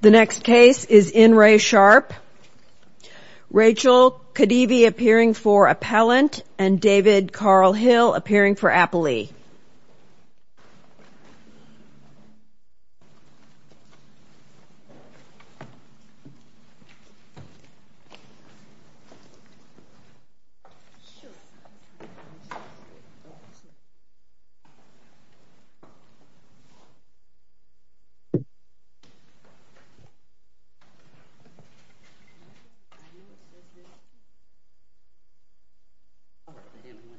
The next case is in re sharp. Rachel could be appearing for appellant and David Carl Hill appearing for appellee. All in favor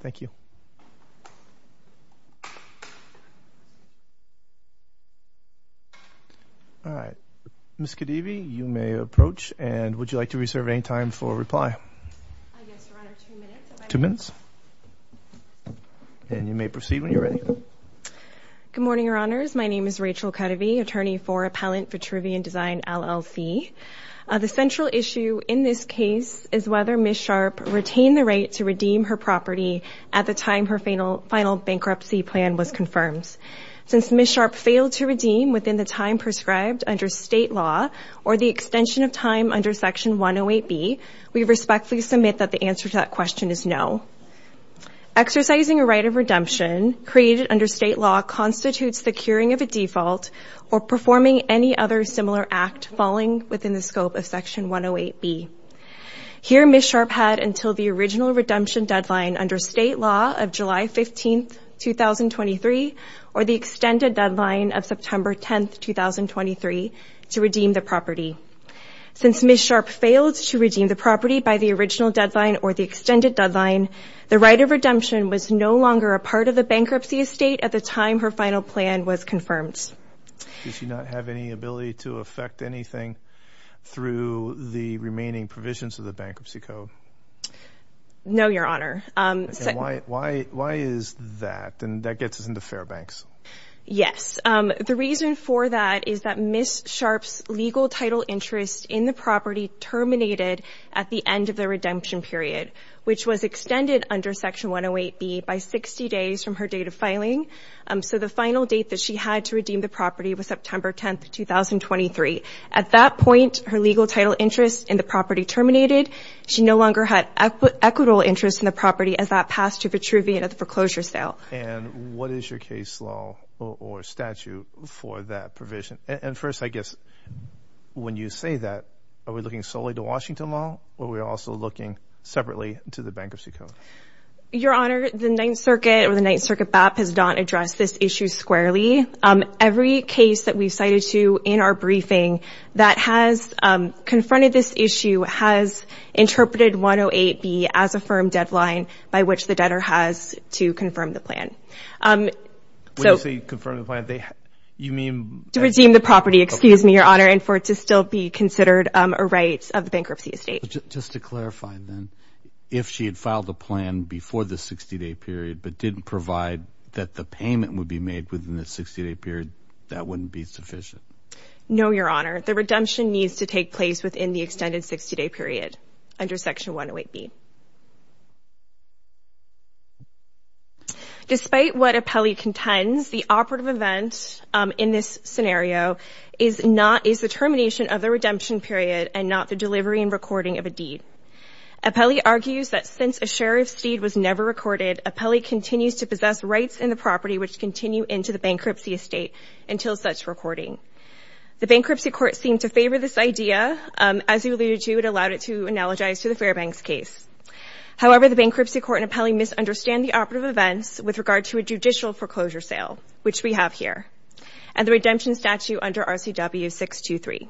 say aye. All right, Ms. Kadeavy, you may approach and would you like to reserve any time for reply? Two minutes. And you may proceed when you're ready. Good morning, Your Honors. My name is Rachel Kadeavy, attorney for Appellant for Trivian Design, LLC. The central issue in this case is whether Ms. Sharp retained the right to redeem her property at the time her final bankruptcy broke. Since Ms. Sharp failed to redeem within the time prescribed under state law or the extension of time under Section 108B, we respectfully submit that the answer to that question is no. Exercising a right of redemption created under state law constitutes the curing of a default or performing any other similar act falling within the scope of Section 108B. Here Ms. Sharp had until the original redemption deadline under state law of July 15, 2023 or the extended deadline of September 10, 2023 to redeem the property. Since Ms. Sharp failed to redeem the property by the original deadline or the extended deadline, the right of redemption was no longer a part of the bankruptcy estate at the time her final plan was confirmed. Does she not have any ability to affect anything through the remaining provisions of the bankruptcy code? No, Your Honor. Why is that? And that gets us into Fairbanks. Yes. The reason for that is that Ms. Sharp's legal title interest in the property terminated at the end of the redemption period, which was extended under Section 108B by 60 days from her date of filing. So the final date that she had to redeem the property was September 10, 2023. At that point, her legal title interest in the property terminated. She no longer had equitable interest in the property as that passed to a retrieval at the foreclosure sale. And what is your case law or statute for that provision? And first, I guess, when you say that, are we looking solely to Washington law or are we also looking separately to the bankruptcy code? Your Honor, the Ninth Circuit or the Ninth Circuit BAP has not addressed this issue squarely. Every case that we've cited to in our briefing that has confronted this issue has interpreted 108B as a firm deadline by which the debtor has to confirm the plan. When you say confirm the plan, you mean... To redeem the property, excuse me, Your Honor, and for it to still be considered a right of the bankruptcy estate. Just to clarify, then, if she had filed a plan before the 60-day period but didn't provide that the payment would be made within the 60-day period, that wouldn't be sufficient? No, Your Honor. The redemption needs to take place within the extended 60-day period under Section 108B. Despite what Apelli contends, the operative event in this scenario is not... Is the termination of the redemption period and not the delivery and recording of a deed. Apelli argues that since a sheriff's deed was never recorded, Apelli continues to possess rights in the property which continue into the bankruptcy estate until such recording. The bankruptcy court seemed to favor this idea, as you alluded to, it allowed it to analogize to the Fairbanks case. However, the bankruptcy court and Apelli misunderstand the operative events with regard to a judicial foreclosure sale, which we have here. And the redemption statute under RCW 623.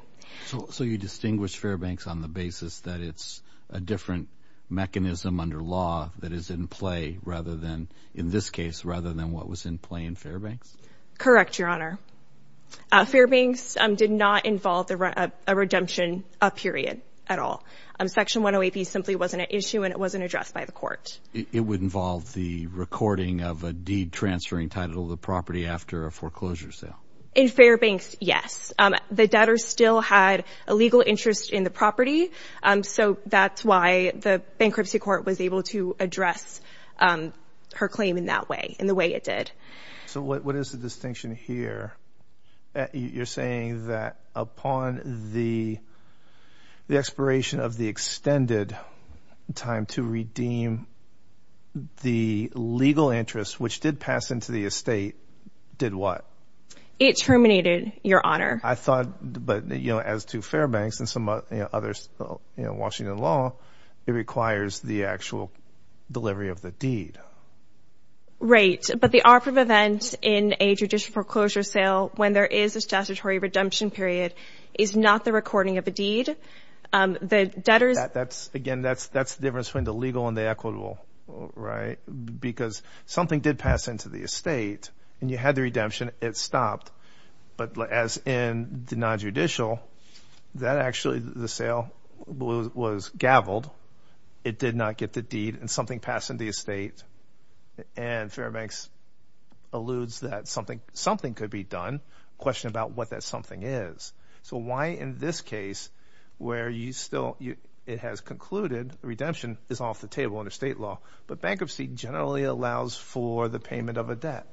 So you distinguish Fairbanks on the basis that it's a different mechanism under law that is in play rather than... In this case, rather than what was in play in Fairbanks? Correct, Your Honor. Fairbanks did not involve a redemption period at all. Section 108B simply wasn't an issue and it wasn't addressed by the court. It would involve the recording of a deed transferring title of the property after a foreclosure sale. In Fairbanks, yes. The debtor still had a legal interest in the property. So that's why the bankruptcy court was able to address her claim in that way, in the way it did. So what is the distinction here? You're saying that upon the expiration of the extended time to redeem the property, the legal interest, which did pass into the estate, did what? It terminated, Your Honor. It requires the actual delivery of the deed. Right. But the operative events in a judicial foreclosure sale when there is a statutory redemption period is not the recording of a deed. Again, that's the difference between the legal and the equitable, right? Because something did pass into the estate and you had the redemption. It stopped. But as in the nonjudicial, that actually the sale was gaveled. It did not get the deed and something passed into the estate. And Fairbanks alludes that something could be done. Question about what that something is. So why in this case where you still it has concluded redemption is off the table under state law, but bankruptcy generally allows for the payment of a debt.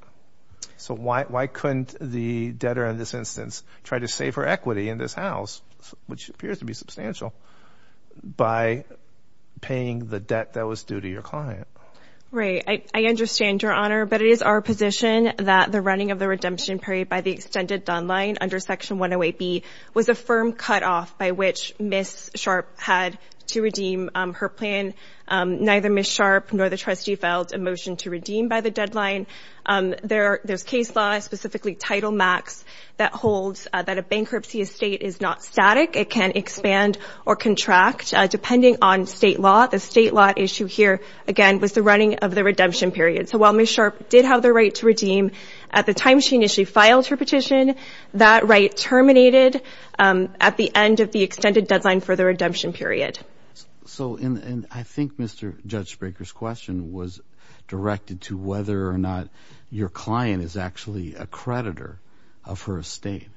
So why why couldn't the debtor in this instance try to save her equity in this house, which appears to be substantial by paying the debt that was due to your client? Right. I understand, Your Honor. But it is our position that the running of the redemption period by the extended deadline under Section 108B was a firm cutoff by which Ms. Sharp had to redeem her plan. Neither Ms. Sharp nor the trustee felt a motion to redeem by the deadline there. There's case law, specifically Title Max, that holds that a bankruptcy estate is not static. It can expand or contract depending on state law. The state law issue here, again, was the running of the redemption period. So while Ms. Sharp did have the right to redeem at the time she initially filed her petition, that right terminated at the end of the extended deadline for the redemption period. So and I think Mr. Judge Baker's question was directed to whether or not your client is actually a creditor of her estate.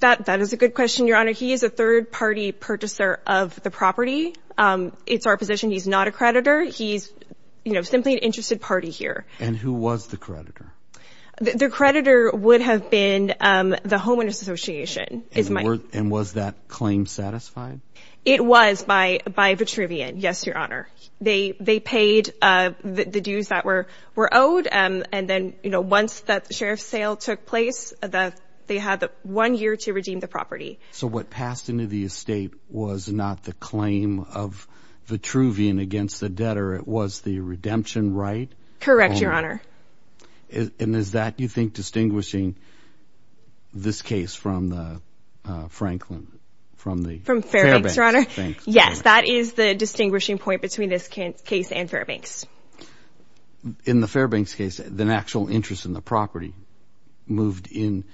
That is a good question, Your Honor. He is a third party purchaser of the property. It's our position he's not a creditor. He's simply an interested party here. And who was the creditor? The creditor would have been the Homeowners Association. And was that claim satisfied? It was by Vitruvian, yes, Your Honor. They paid the dues that were owed. And then once that sheriff's sale took place, they had one year to redeem the property. So what passed into the estate was not the claim of Vitruvian against the debtor. It was the redemption right? Correct, Your Honor. And is that, you think, distinguishing this case from the Franklin, from the Fairbanks case? Yes, that is the distinguishing point between this case and Fairbanks. In the Fairbanks case, the actual interest in the property moved in.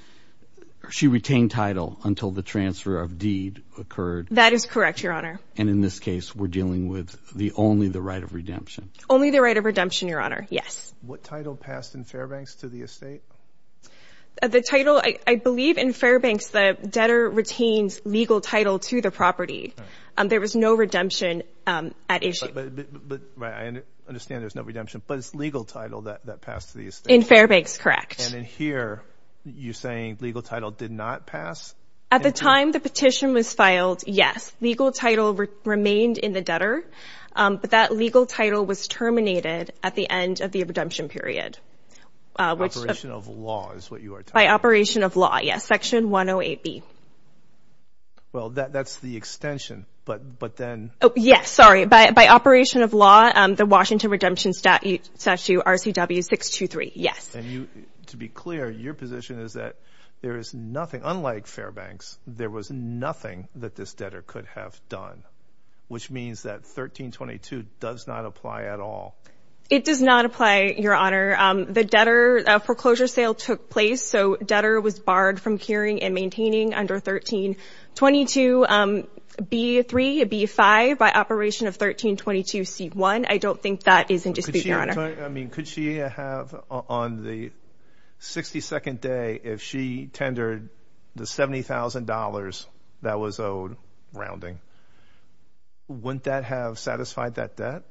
She retained title until the transfer of deed occurred? That is correct, Your Honor. And in this case, we're dealing with only the right of redemption? Only the right of redemption, Your Honor, yes. What title passed in Fairbanks to the estate? The title, I believe in Fairbanks, the debtor retains legal title to the property. There was no redemption at issue. But I understand there's no redemption, but it's legal title that passed to the estate. In Fairbanks, correct. And in here, you're saying legal title did not pass? At the time the petition was filed, yes. Legal title remained in the debtor, but that legal title was terminated at the end of the redemption period. By operation of law is what you are talking about? By operation of law, yes. Section 108B. Well, that's the extension, but then... Yes, sorry. By operation of law, the Washington Redemption Statute RCW 623, yes. And to be clear, your position is that there is nothing, unlike Fairbanks, there was nothing that this debtor could have done, which means that 1322 does not apply at all. It does not apply, Your Honor. The debtor foreclosure sale took place, so debtor was barred from carrying and maintaining under 1322. B3, B5, by operation of 1322C1, I don't think that is in dispute, Your Honor. Could she have, on the 62nd day, if she tendered the $70,000 that was owed rounding, wouldn't that have satisfied that debt?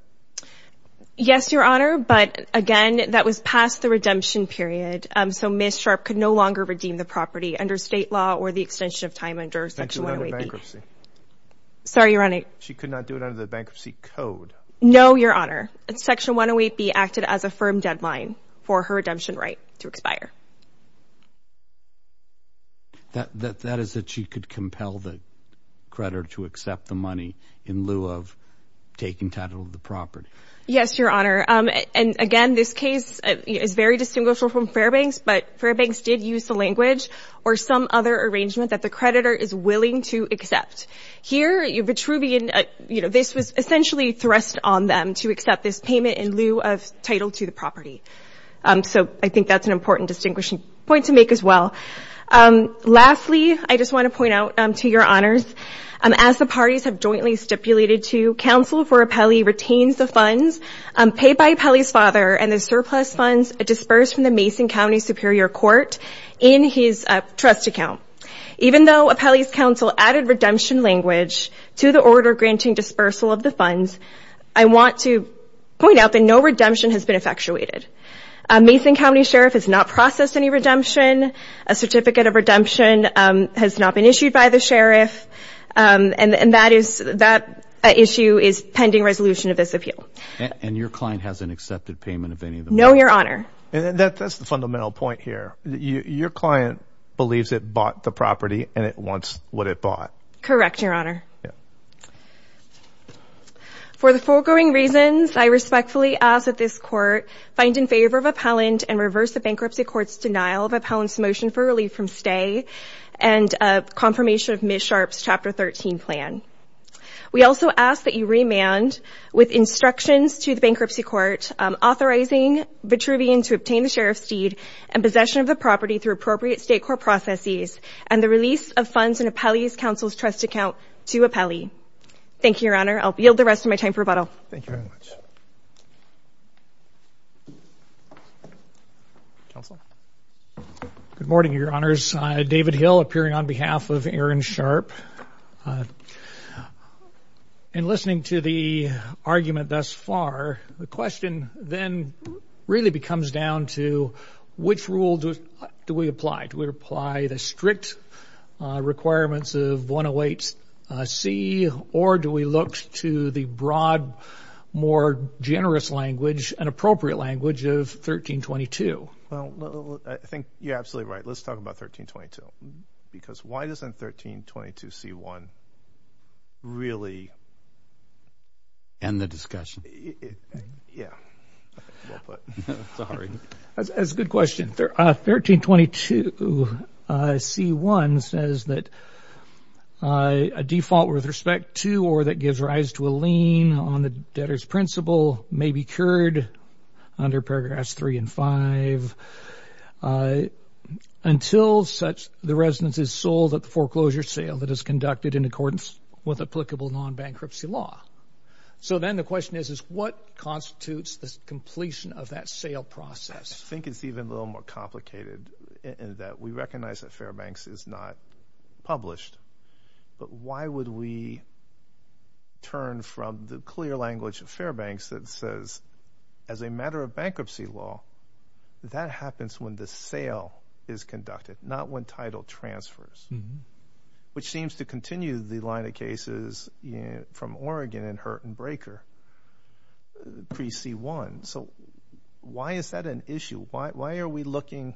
Yes, Your Honor, but again, that was past the redemption period, so Ms. Sharp could no longer redeem the property under state law or the extension of time under section 108B. She could not do it under the bankruptcy code? No, Your Honor. Section 108B acted as a firm deadline for her redemption right to expire. That is that she could compel the creditor to accept the money in lieu of taking title of the property. Yes, Your Honor, and again, this case is very distinguishable from Fairbanks, but Fairbanks did use the language or some other arrangement that the creditor is willing to accept. Here, Vitruvian, you know, this was essentially thrust on them to accept this payment in lieu of title to the property. So I think that's an important distinguishing point to make as well. Lastly, I just want to point out to Your Honors, as the parties have jointly stipulated to, counsel for Apelli retains the funds paid by Apelli's father, and the surplus funds disperse from the Mason County Superior Court in his trust account. Even though Apelli's counsel added redemption language to the order granting dispersal of the funds, I want to point out that no redemption has been effectuated. A Mason County sheriff has not processed any redemption, a certificate of redemption has not been issued by the sheriff, and that issue is pending resolution of this appeal. And your client hasn't accepted payment of any of the funds? No, Your Honor. And that's the fundamental point here. Your client believes it bought the property and it wants what it bought. Correct, Your Honor. For the foregoing reasons, I respectfully ask that this Court find in favor of appellant and reverse the bankruptcy court's denial of Aaron Sharpe's Chapter 13 plan. We also ask that you remand, with instructions to the bankruptcy court, authorizing Vitruvian to obtain the sheriff's deed and possession of the property through appropriate state court processes, and the release of funds in Apelli's counsel's trust account to Apelli. Thank you, Your Honor. I'll yield the rest of my time for rebuttal. Thank you very much. Counsel? Good morning, Your Honors. David Hill, appearing on behalf of Aaron Sharpe. In listening to the argument thus far, the question then really comes down to which rule do we apply? Do we apply the strict requirements of 108C, or do we look to the broad, more generous language and appropriate language of 1322? Well, I think you're absolutely right. Let's talk about 1322. Because why doesn't 1322C1 really... End the discussion. Yeah. That's a good question. 1322C1 says that a default with respect to or that gives rise to a lien on the debtor's principal may be cured under paragraphs 3 and 5 until such the residence is sold at the foreclosure sale that is conducted in accordance with applicable non-bankruptcy law. So then the question is what constitutes the completion of that sale process? I think it's even a little more complicated in that we recognize that Fairbanks is not published, but why would we turn from the clear language of Fairbanks that says as a matter of bankruptcy law, that happens when the sale is conducted, not when title transfers, which seems to continue the line of cases from Oregon and Hurt and Breaker pre-C1. So why is that an issue? Why are we looking...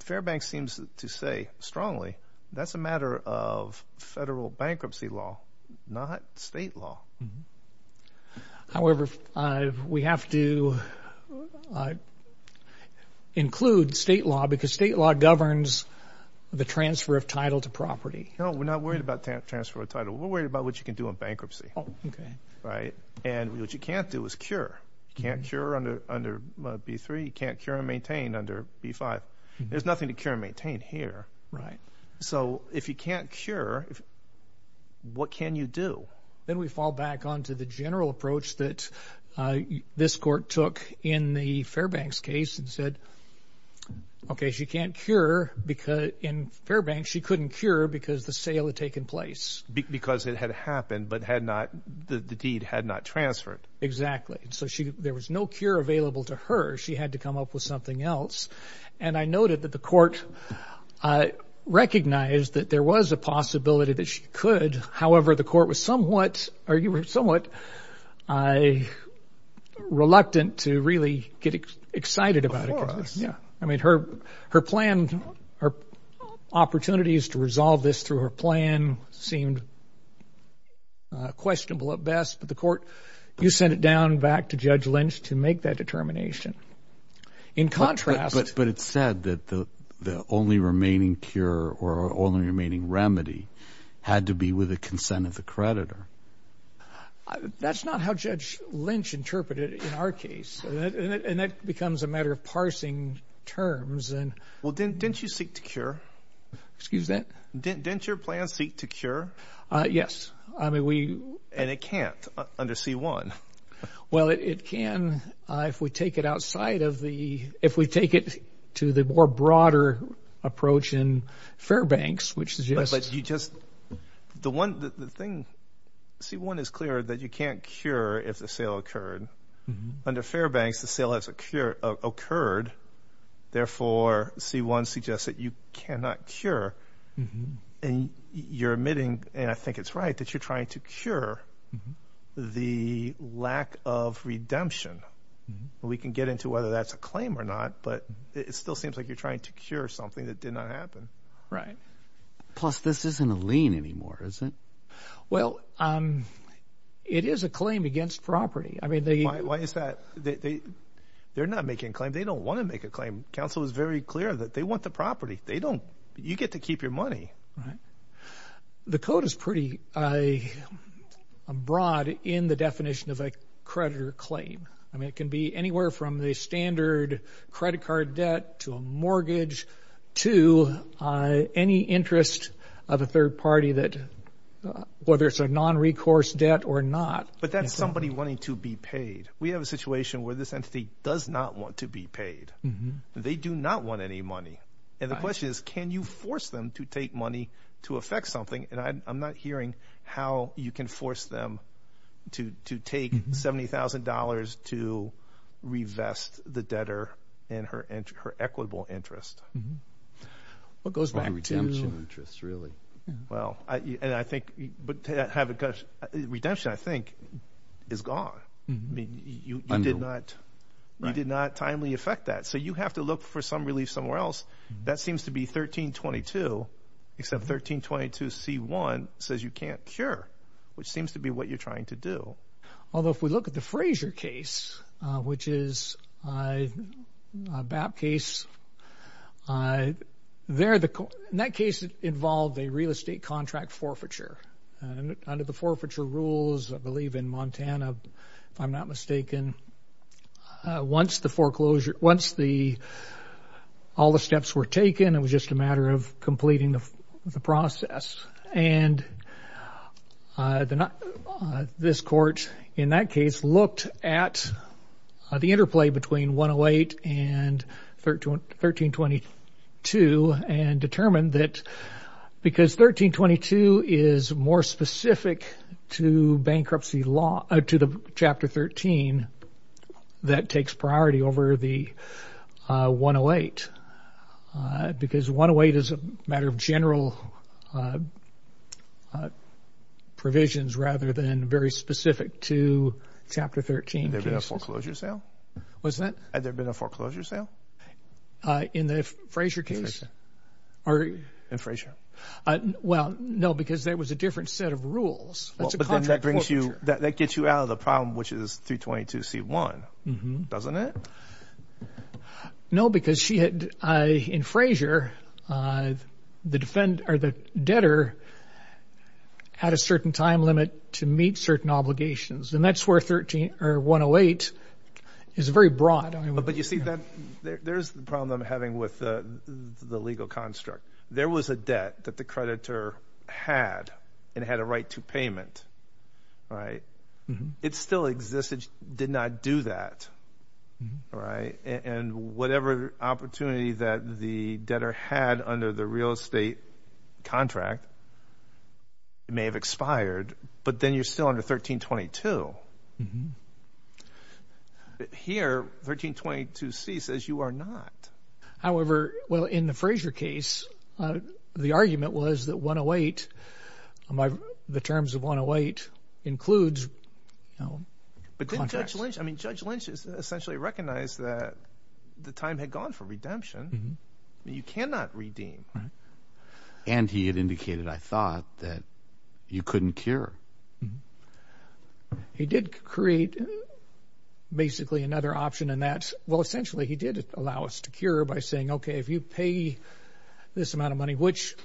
Fairbanks seems to say strongly that's a matter of federal bankruptcy law, not state law. However, we have to include state law because state law governs the transfer of title to property. No, we're not worried about transfer of title. We're worried about what you can do in bankruptcy. And what you can't do is cure. You can't cure under B3, you can't cure and maintain under B5. There's nothing to cure and maintain here. So if you can't cure, what can you do? Then we fall back onto the general approach that this court took in the Fairbanks case and said, OK, she can't cure because in Fairbanks she couldn't cure because the sale had taken place. Because it had happened, but the deed had not transferred. Exactly. So there was no cure available to her. She had to come up with something else. And I noted that the court recognized that there was a possibility that she could. However, the court was somewhat reluctant to really get excited about it. I mean, her plan, her opportunities to resolve this through her plan seemed questionable at best. But the court, you sent it down back to Judge Lynch to make that determination. But it said that the only remaining cure or only remaining remedy had to be with the consent of the creditor. That's not how Judge Lynch interpreted it in our case. And that becomes a matter of parsing terms. Well, didn't you seek to cure? Excuse that. Didn't your plan seek to cure? Yes. And it can't under C-1. Well, it can if we take it to the more broader approach in Fairbanks. C-1 is clear that you can't cure if the sale occurred. Under Fairbanks, the sale has occurred. Therefore, C-1 suggests that you cannot cure. And you're admitting, and I think it's right, that you're trying to cure the lack of redemption. We can get into whether that's a claim or not, but it still seems like you're trying to cure something that did not happen. Plus, this isn't a lien anymore, is it? Well, it is a claim against property. Why is that? They're not making a claim. They don't want to make a claim. Counsel is very clear that they want the property. You get to keep your money. The code is pretty broad in the definition of a creditor claim. I mean, it can be anywhere from the standard credit card debt to a mortgage to any interest of a third party that, whether it's a nonrecourse debt or not. But that's somebody wanting to be paid. We have a situation where this entity does not want to be paid. They do not want any money. And the question is, can you force them to take money to affect something? And I'm not hearing how you can force them to take $70,000 to revest the debtor and her equitable interest. Redemption, I think, is gone. I mean, you did not timely affect that. So you have to look for some relief somewhere else. That seems to be 1322, except 1322 C1 says you can't cure, which seems to be what you're trying to do. Although, if we look at the Frazier case, which is a BAP case, in that case, it involved a real estate contract forfeiture. And under the forfeiture rules, I believe in Montana, if I'm not mistaken, once all the steps were taken, it was just a matter of completing the process. And this court, in that case, looked at the interplay between 108 and 1322 and determined that because 1322 is more specific to bankruptcy law, to the Chapter 13, that takes priority over the 108. Because 108 is a matter of general provisions, rather than very specific to Chapter 13. Had there been a foreclosure sale? In the Frazier case. Well, no, because there was a different set of rules. That gets you out of the problem, which is 322 C1, doesn't it? No, because in Frazier, the debtor had a certain time limit to meet certain obligations. And that's where 108 is very broad. But you see, there's the problem I'm having with the legal construct. There was a debt that the creditor had and had a right to payment. It still existed, did not do that. And whatever opportunity that the debtor had under the real estate contract, it may have expired, but then you're still under 1322. Here, 1322 C says you are not. However, well, in the Frazier case, the argument was that 108, the terms of 108 includes contracts. But Judge Lynch essentially recognized that the time had gone for redemption. You cannot redeem. And he had indicated, I thought, that you couldn't cure. He did create basically another option, and that's, well, essentially, he did allow us to cure by saying, okay, if you pay this amount of money, which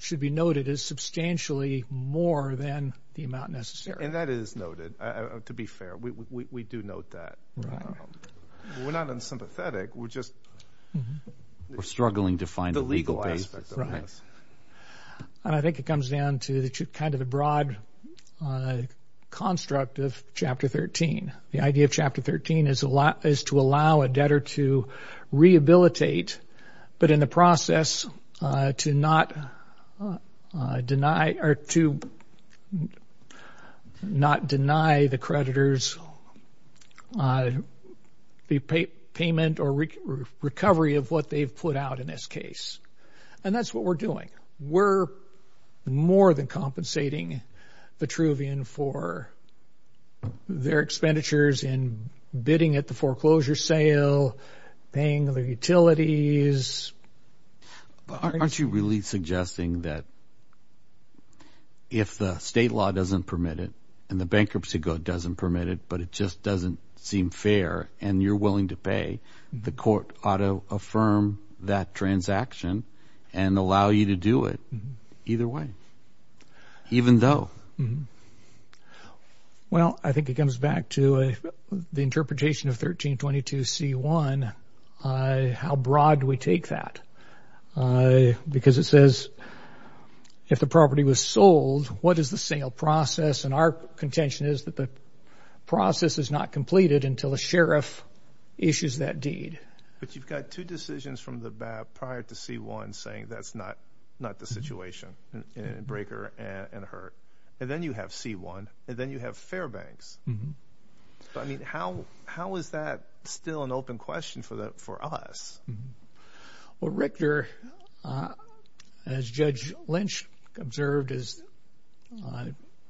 should be noted as substantially more than the amount necessary. And that is noted, to be fair. We do note that. We're not unsympathetic. We're just struggling to find the legal aspect of this. And I think it comes down to kind of the broad construct of Chapter 13. The idea of Chapter 13 is to allow a debtor to rehabilitate, but in the process, to not deny the creditors the payment or recovery of what they've put out in this case. And that's what we're doing. We're more than compensating Vitruvian for their expenditures in bidding at the foreclosure sale, paying their utilities. Aren't you really suggesting that if the state law doesn't permit it and the bankruptcy code doesn't permit it, but it just doesn't seem fair and you're willing to pay, the court ought to affirm that transaction and allow you to do it either way, even though? Well, I think it comes back to the interpretation of 1322C1. How broad do we take that? Because it says if the property was sold, what is the sale process? And our contention is that the process is not completed until a sheriff issues that deed. But you've got two decisions from the BAP prior to C1 saying that's not the situation in Breaker and Hurt. And then you have C1, and then you have Fairbanks. I mean, how is that still an open question for us? Well, Richter, as Judge Lynch observed, is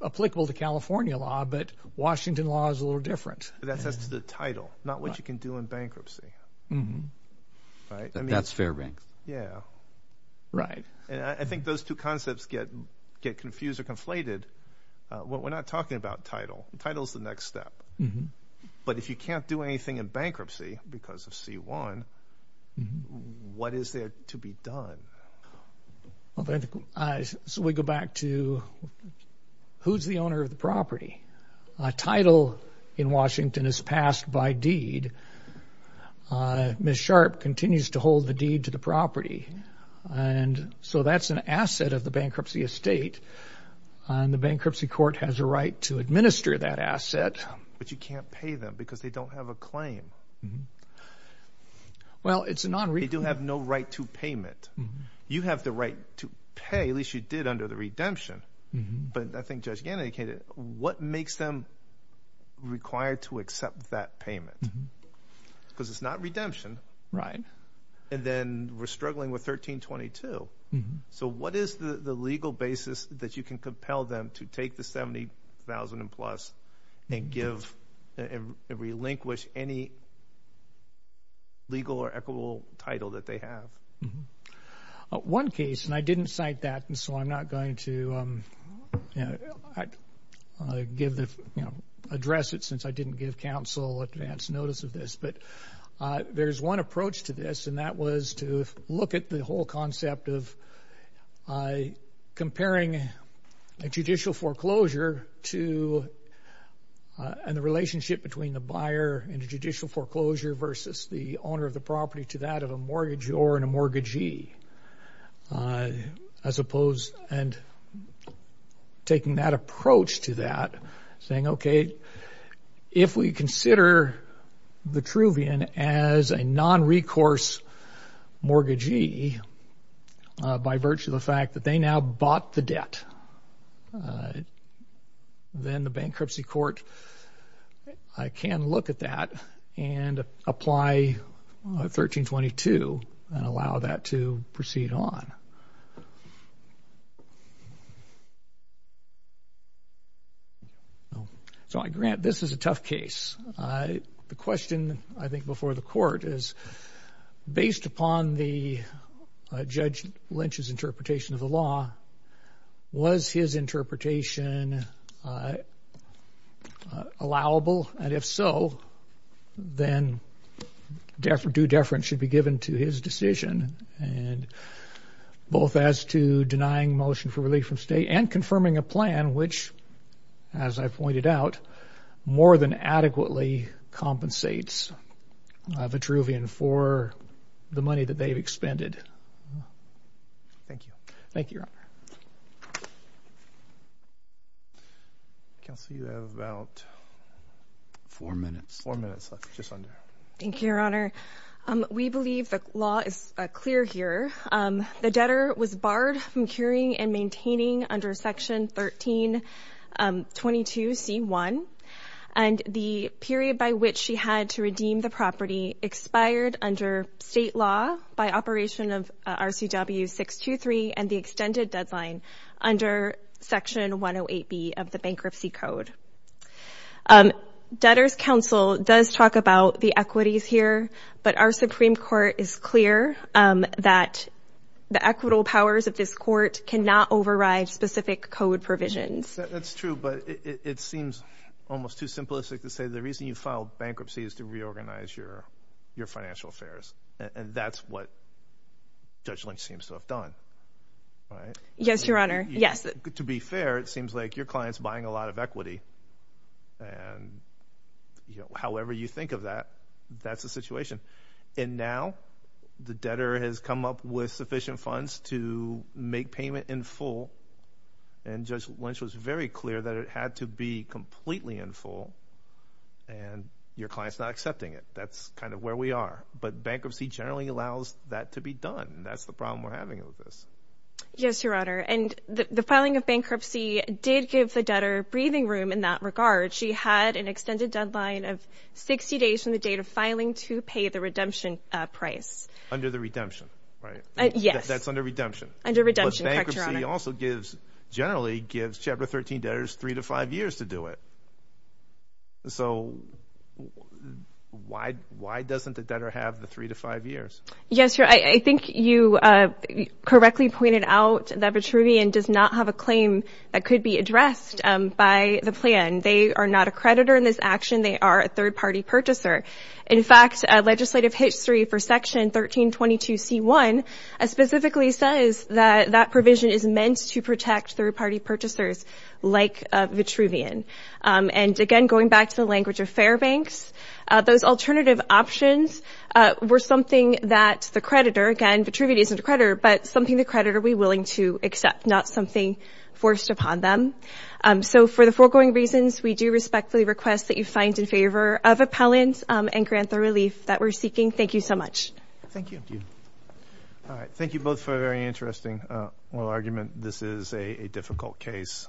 applicable to California law, but Washington law is a little different. That's as to the title, not what you can do in bankruptcy. That's Fairbanks. Yeah. Right. And I think those two concepts get confused or conflated. We're not talking about title. Title is the next step. But if you can't do anything in bankruptcy because of C1, what is there to be done? So we go back to who's the owner of the property? A title in Washington is passed by deed. Ms. Sharp continues to hold the deed to the property. And so that's an asset of the bankruptcy estate, and the bankruptcy court has a right to administer that asset. But you can't pay them because they don't have a claim. Well, it's a non-re- They do have no right to payment. You have the right to pay, at least you did under the redemption. But I think Judge Gannon indicated, what makes them required to accept that payment? Because it's not redemption. And then we're struggling with 1322. So what is the legal basis that you can compel them to take the 70,000 plus and relinquish any legal or equitable title that they have? One case, and I didn't cite that, and so I'm not going to address it, since I didn't give counsel advance notice of this. But there's one approach to this, and that was to look at the whole concept of comparing a judicial foreclosure and the relationship between the buyer and the judicial foreclosure versus the owner of the property to that of a mortgagee or in a mortgagee. I suppose, and taking that approach to that, saying, okay, if we consider Vitruvian as a non-recourse mortgagee by virtue of the fact that they now bought the debt, then the bankruptcy court can look at that and apply 1322 and allow that to proceed on. So I grant this is a tough case. The question, I think, before the court is, based upon Judge Lynch's interpretation of the law, was his interpretation allowable? And if so, then due deference should be given to his decision, both as to denying motion for relief from state and confirming a plan which, as I pointed out, more than adequately compensates Vitruvian for the money that they've expended. Thank you. Thank you, Your Honor. Counsel, you have about four minutes left, just under. Thank you, Your Honor. We believe the law is clear here. The debtor was barred from curing and maintaining under Section 1322C1, and the period by which she had to redeem the property expired under state law by operation of RCW 623 and the extended deadline under Section 108B of the Bankruptcy Code. Debtors' Counsel does talk about the equities here, but our Supreme Court is clear that the equitable powers of this court cannot override specific code provisions. That's true, but it seems almost too simplistic to say the reason you filed bankruptcy is to reorganize your financial affairs, and that's what Judge Lynch seems to have done, right? Yes, Your Honor, yes. To be fair, it seems like your client's buying a lot of equity, and however you think of that, that's the situation. And now the debtor has come up with sufficient funds to make payment in full, and Judge Lynch was very clear that it had to be completely in full, and your client's not accepting it. That's kind of where we are. But bankruptcy generally allows that to be done, and that's the problem we're having with this. Yes, Your Honor, and the filing of bankruptcy did give the debtor breathing room in that regard. She had an extended deadline of 60 days from the date of filing to pay the redemption price. Under the redemption, right? Yes. That's under redemption. Under redemption, correct, Your Honor. But bankruptcy also gives, generally gives Chapter 13 debtors three to five years to do it. So why doesn't the debtor have the three to five years? Yes, Your Honor, I think you correctly pointed out that Vitruvian does not have a claim that could be addressed by the plan. They are not a creditor in this action. They are a third-party purchaser. In fact, legislative history for Section 1322C1 specifically says that that provision is meant to protect third-party purchasers like Vitruvian. And, again, going back to the language of Fairbanks, those alternative options were something that the creditor, again, Vitruvian isn't a creditor, but something the creditor would be willing to accept, not something forced upon them. So for the foregoing reasons, we do respectfully request that you find in favor of appellant and grant the relief that we're seeking. Thank you so much. Thank you. All right, thank you both for a very interesting oral argument. This is a difficult case.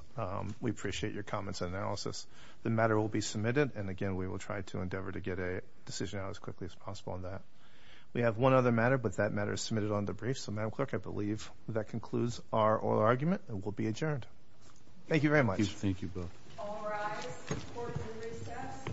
We appreciate your comments and analysis. The matter will be submitted, and, again, we will try to endeavor to get a decision out as quickly as possible on that. We have one other matter, but that matter is submitted on the brief. So, Madam Clerk, I believe that concludes our oral argument and will be adjourned. Thank you very much. Thank you both. All rise for the recess. Thank you all for coming.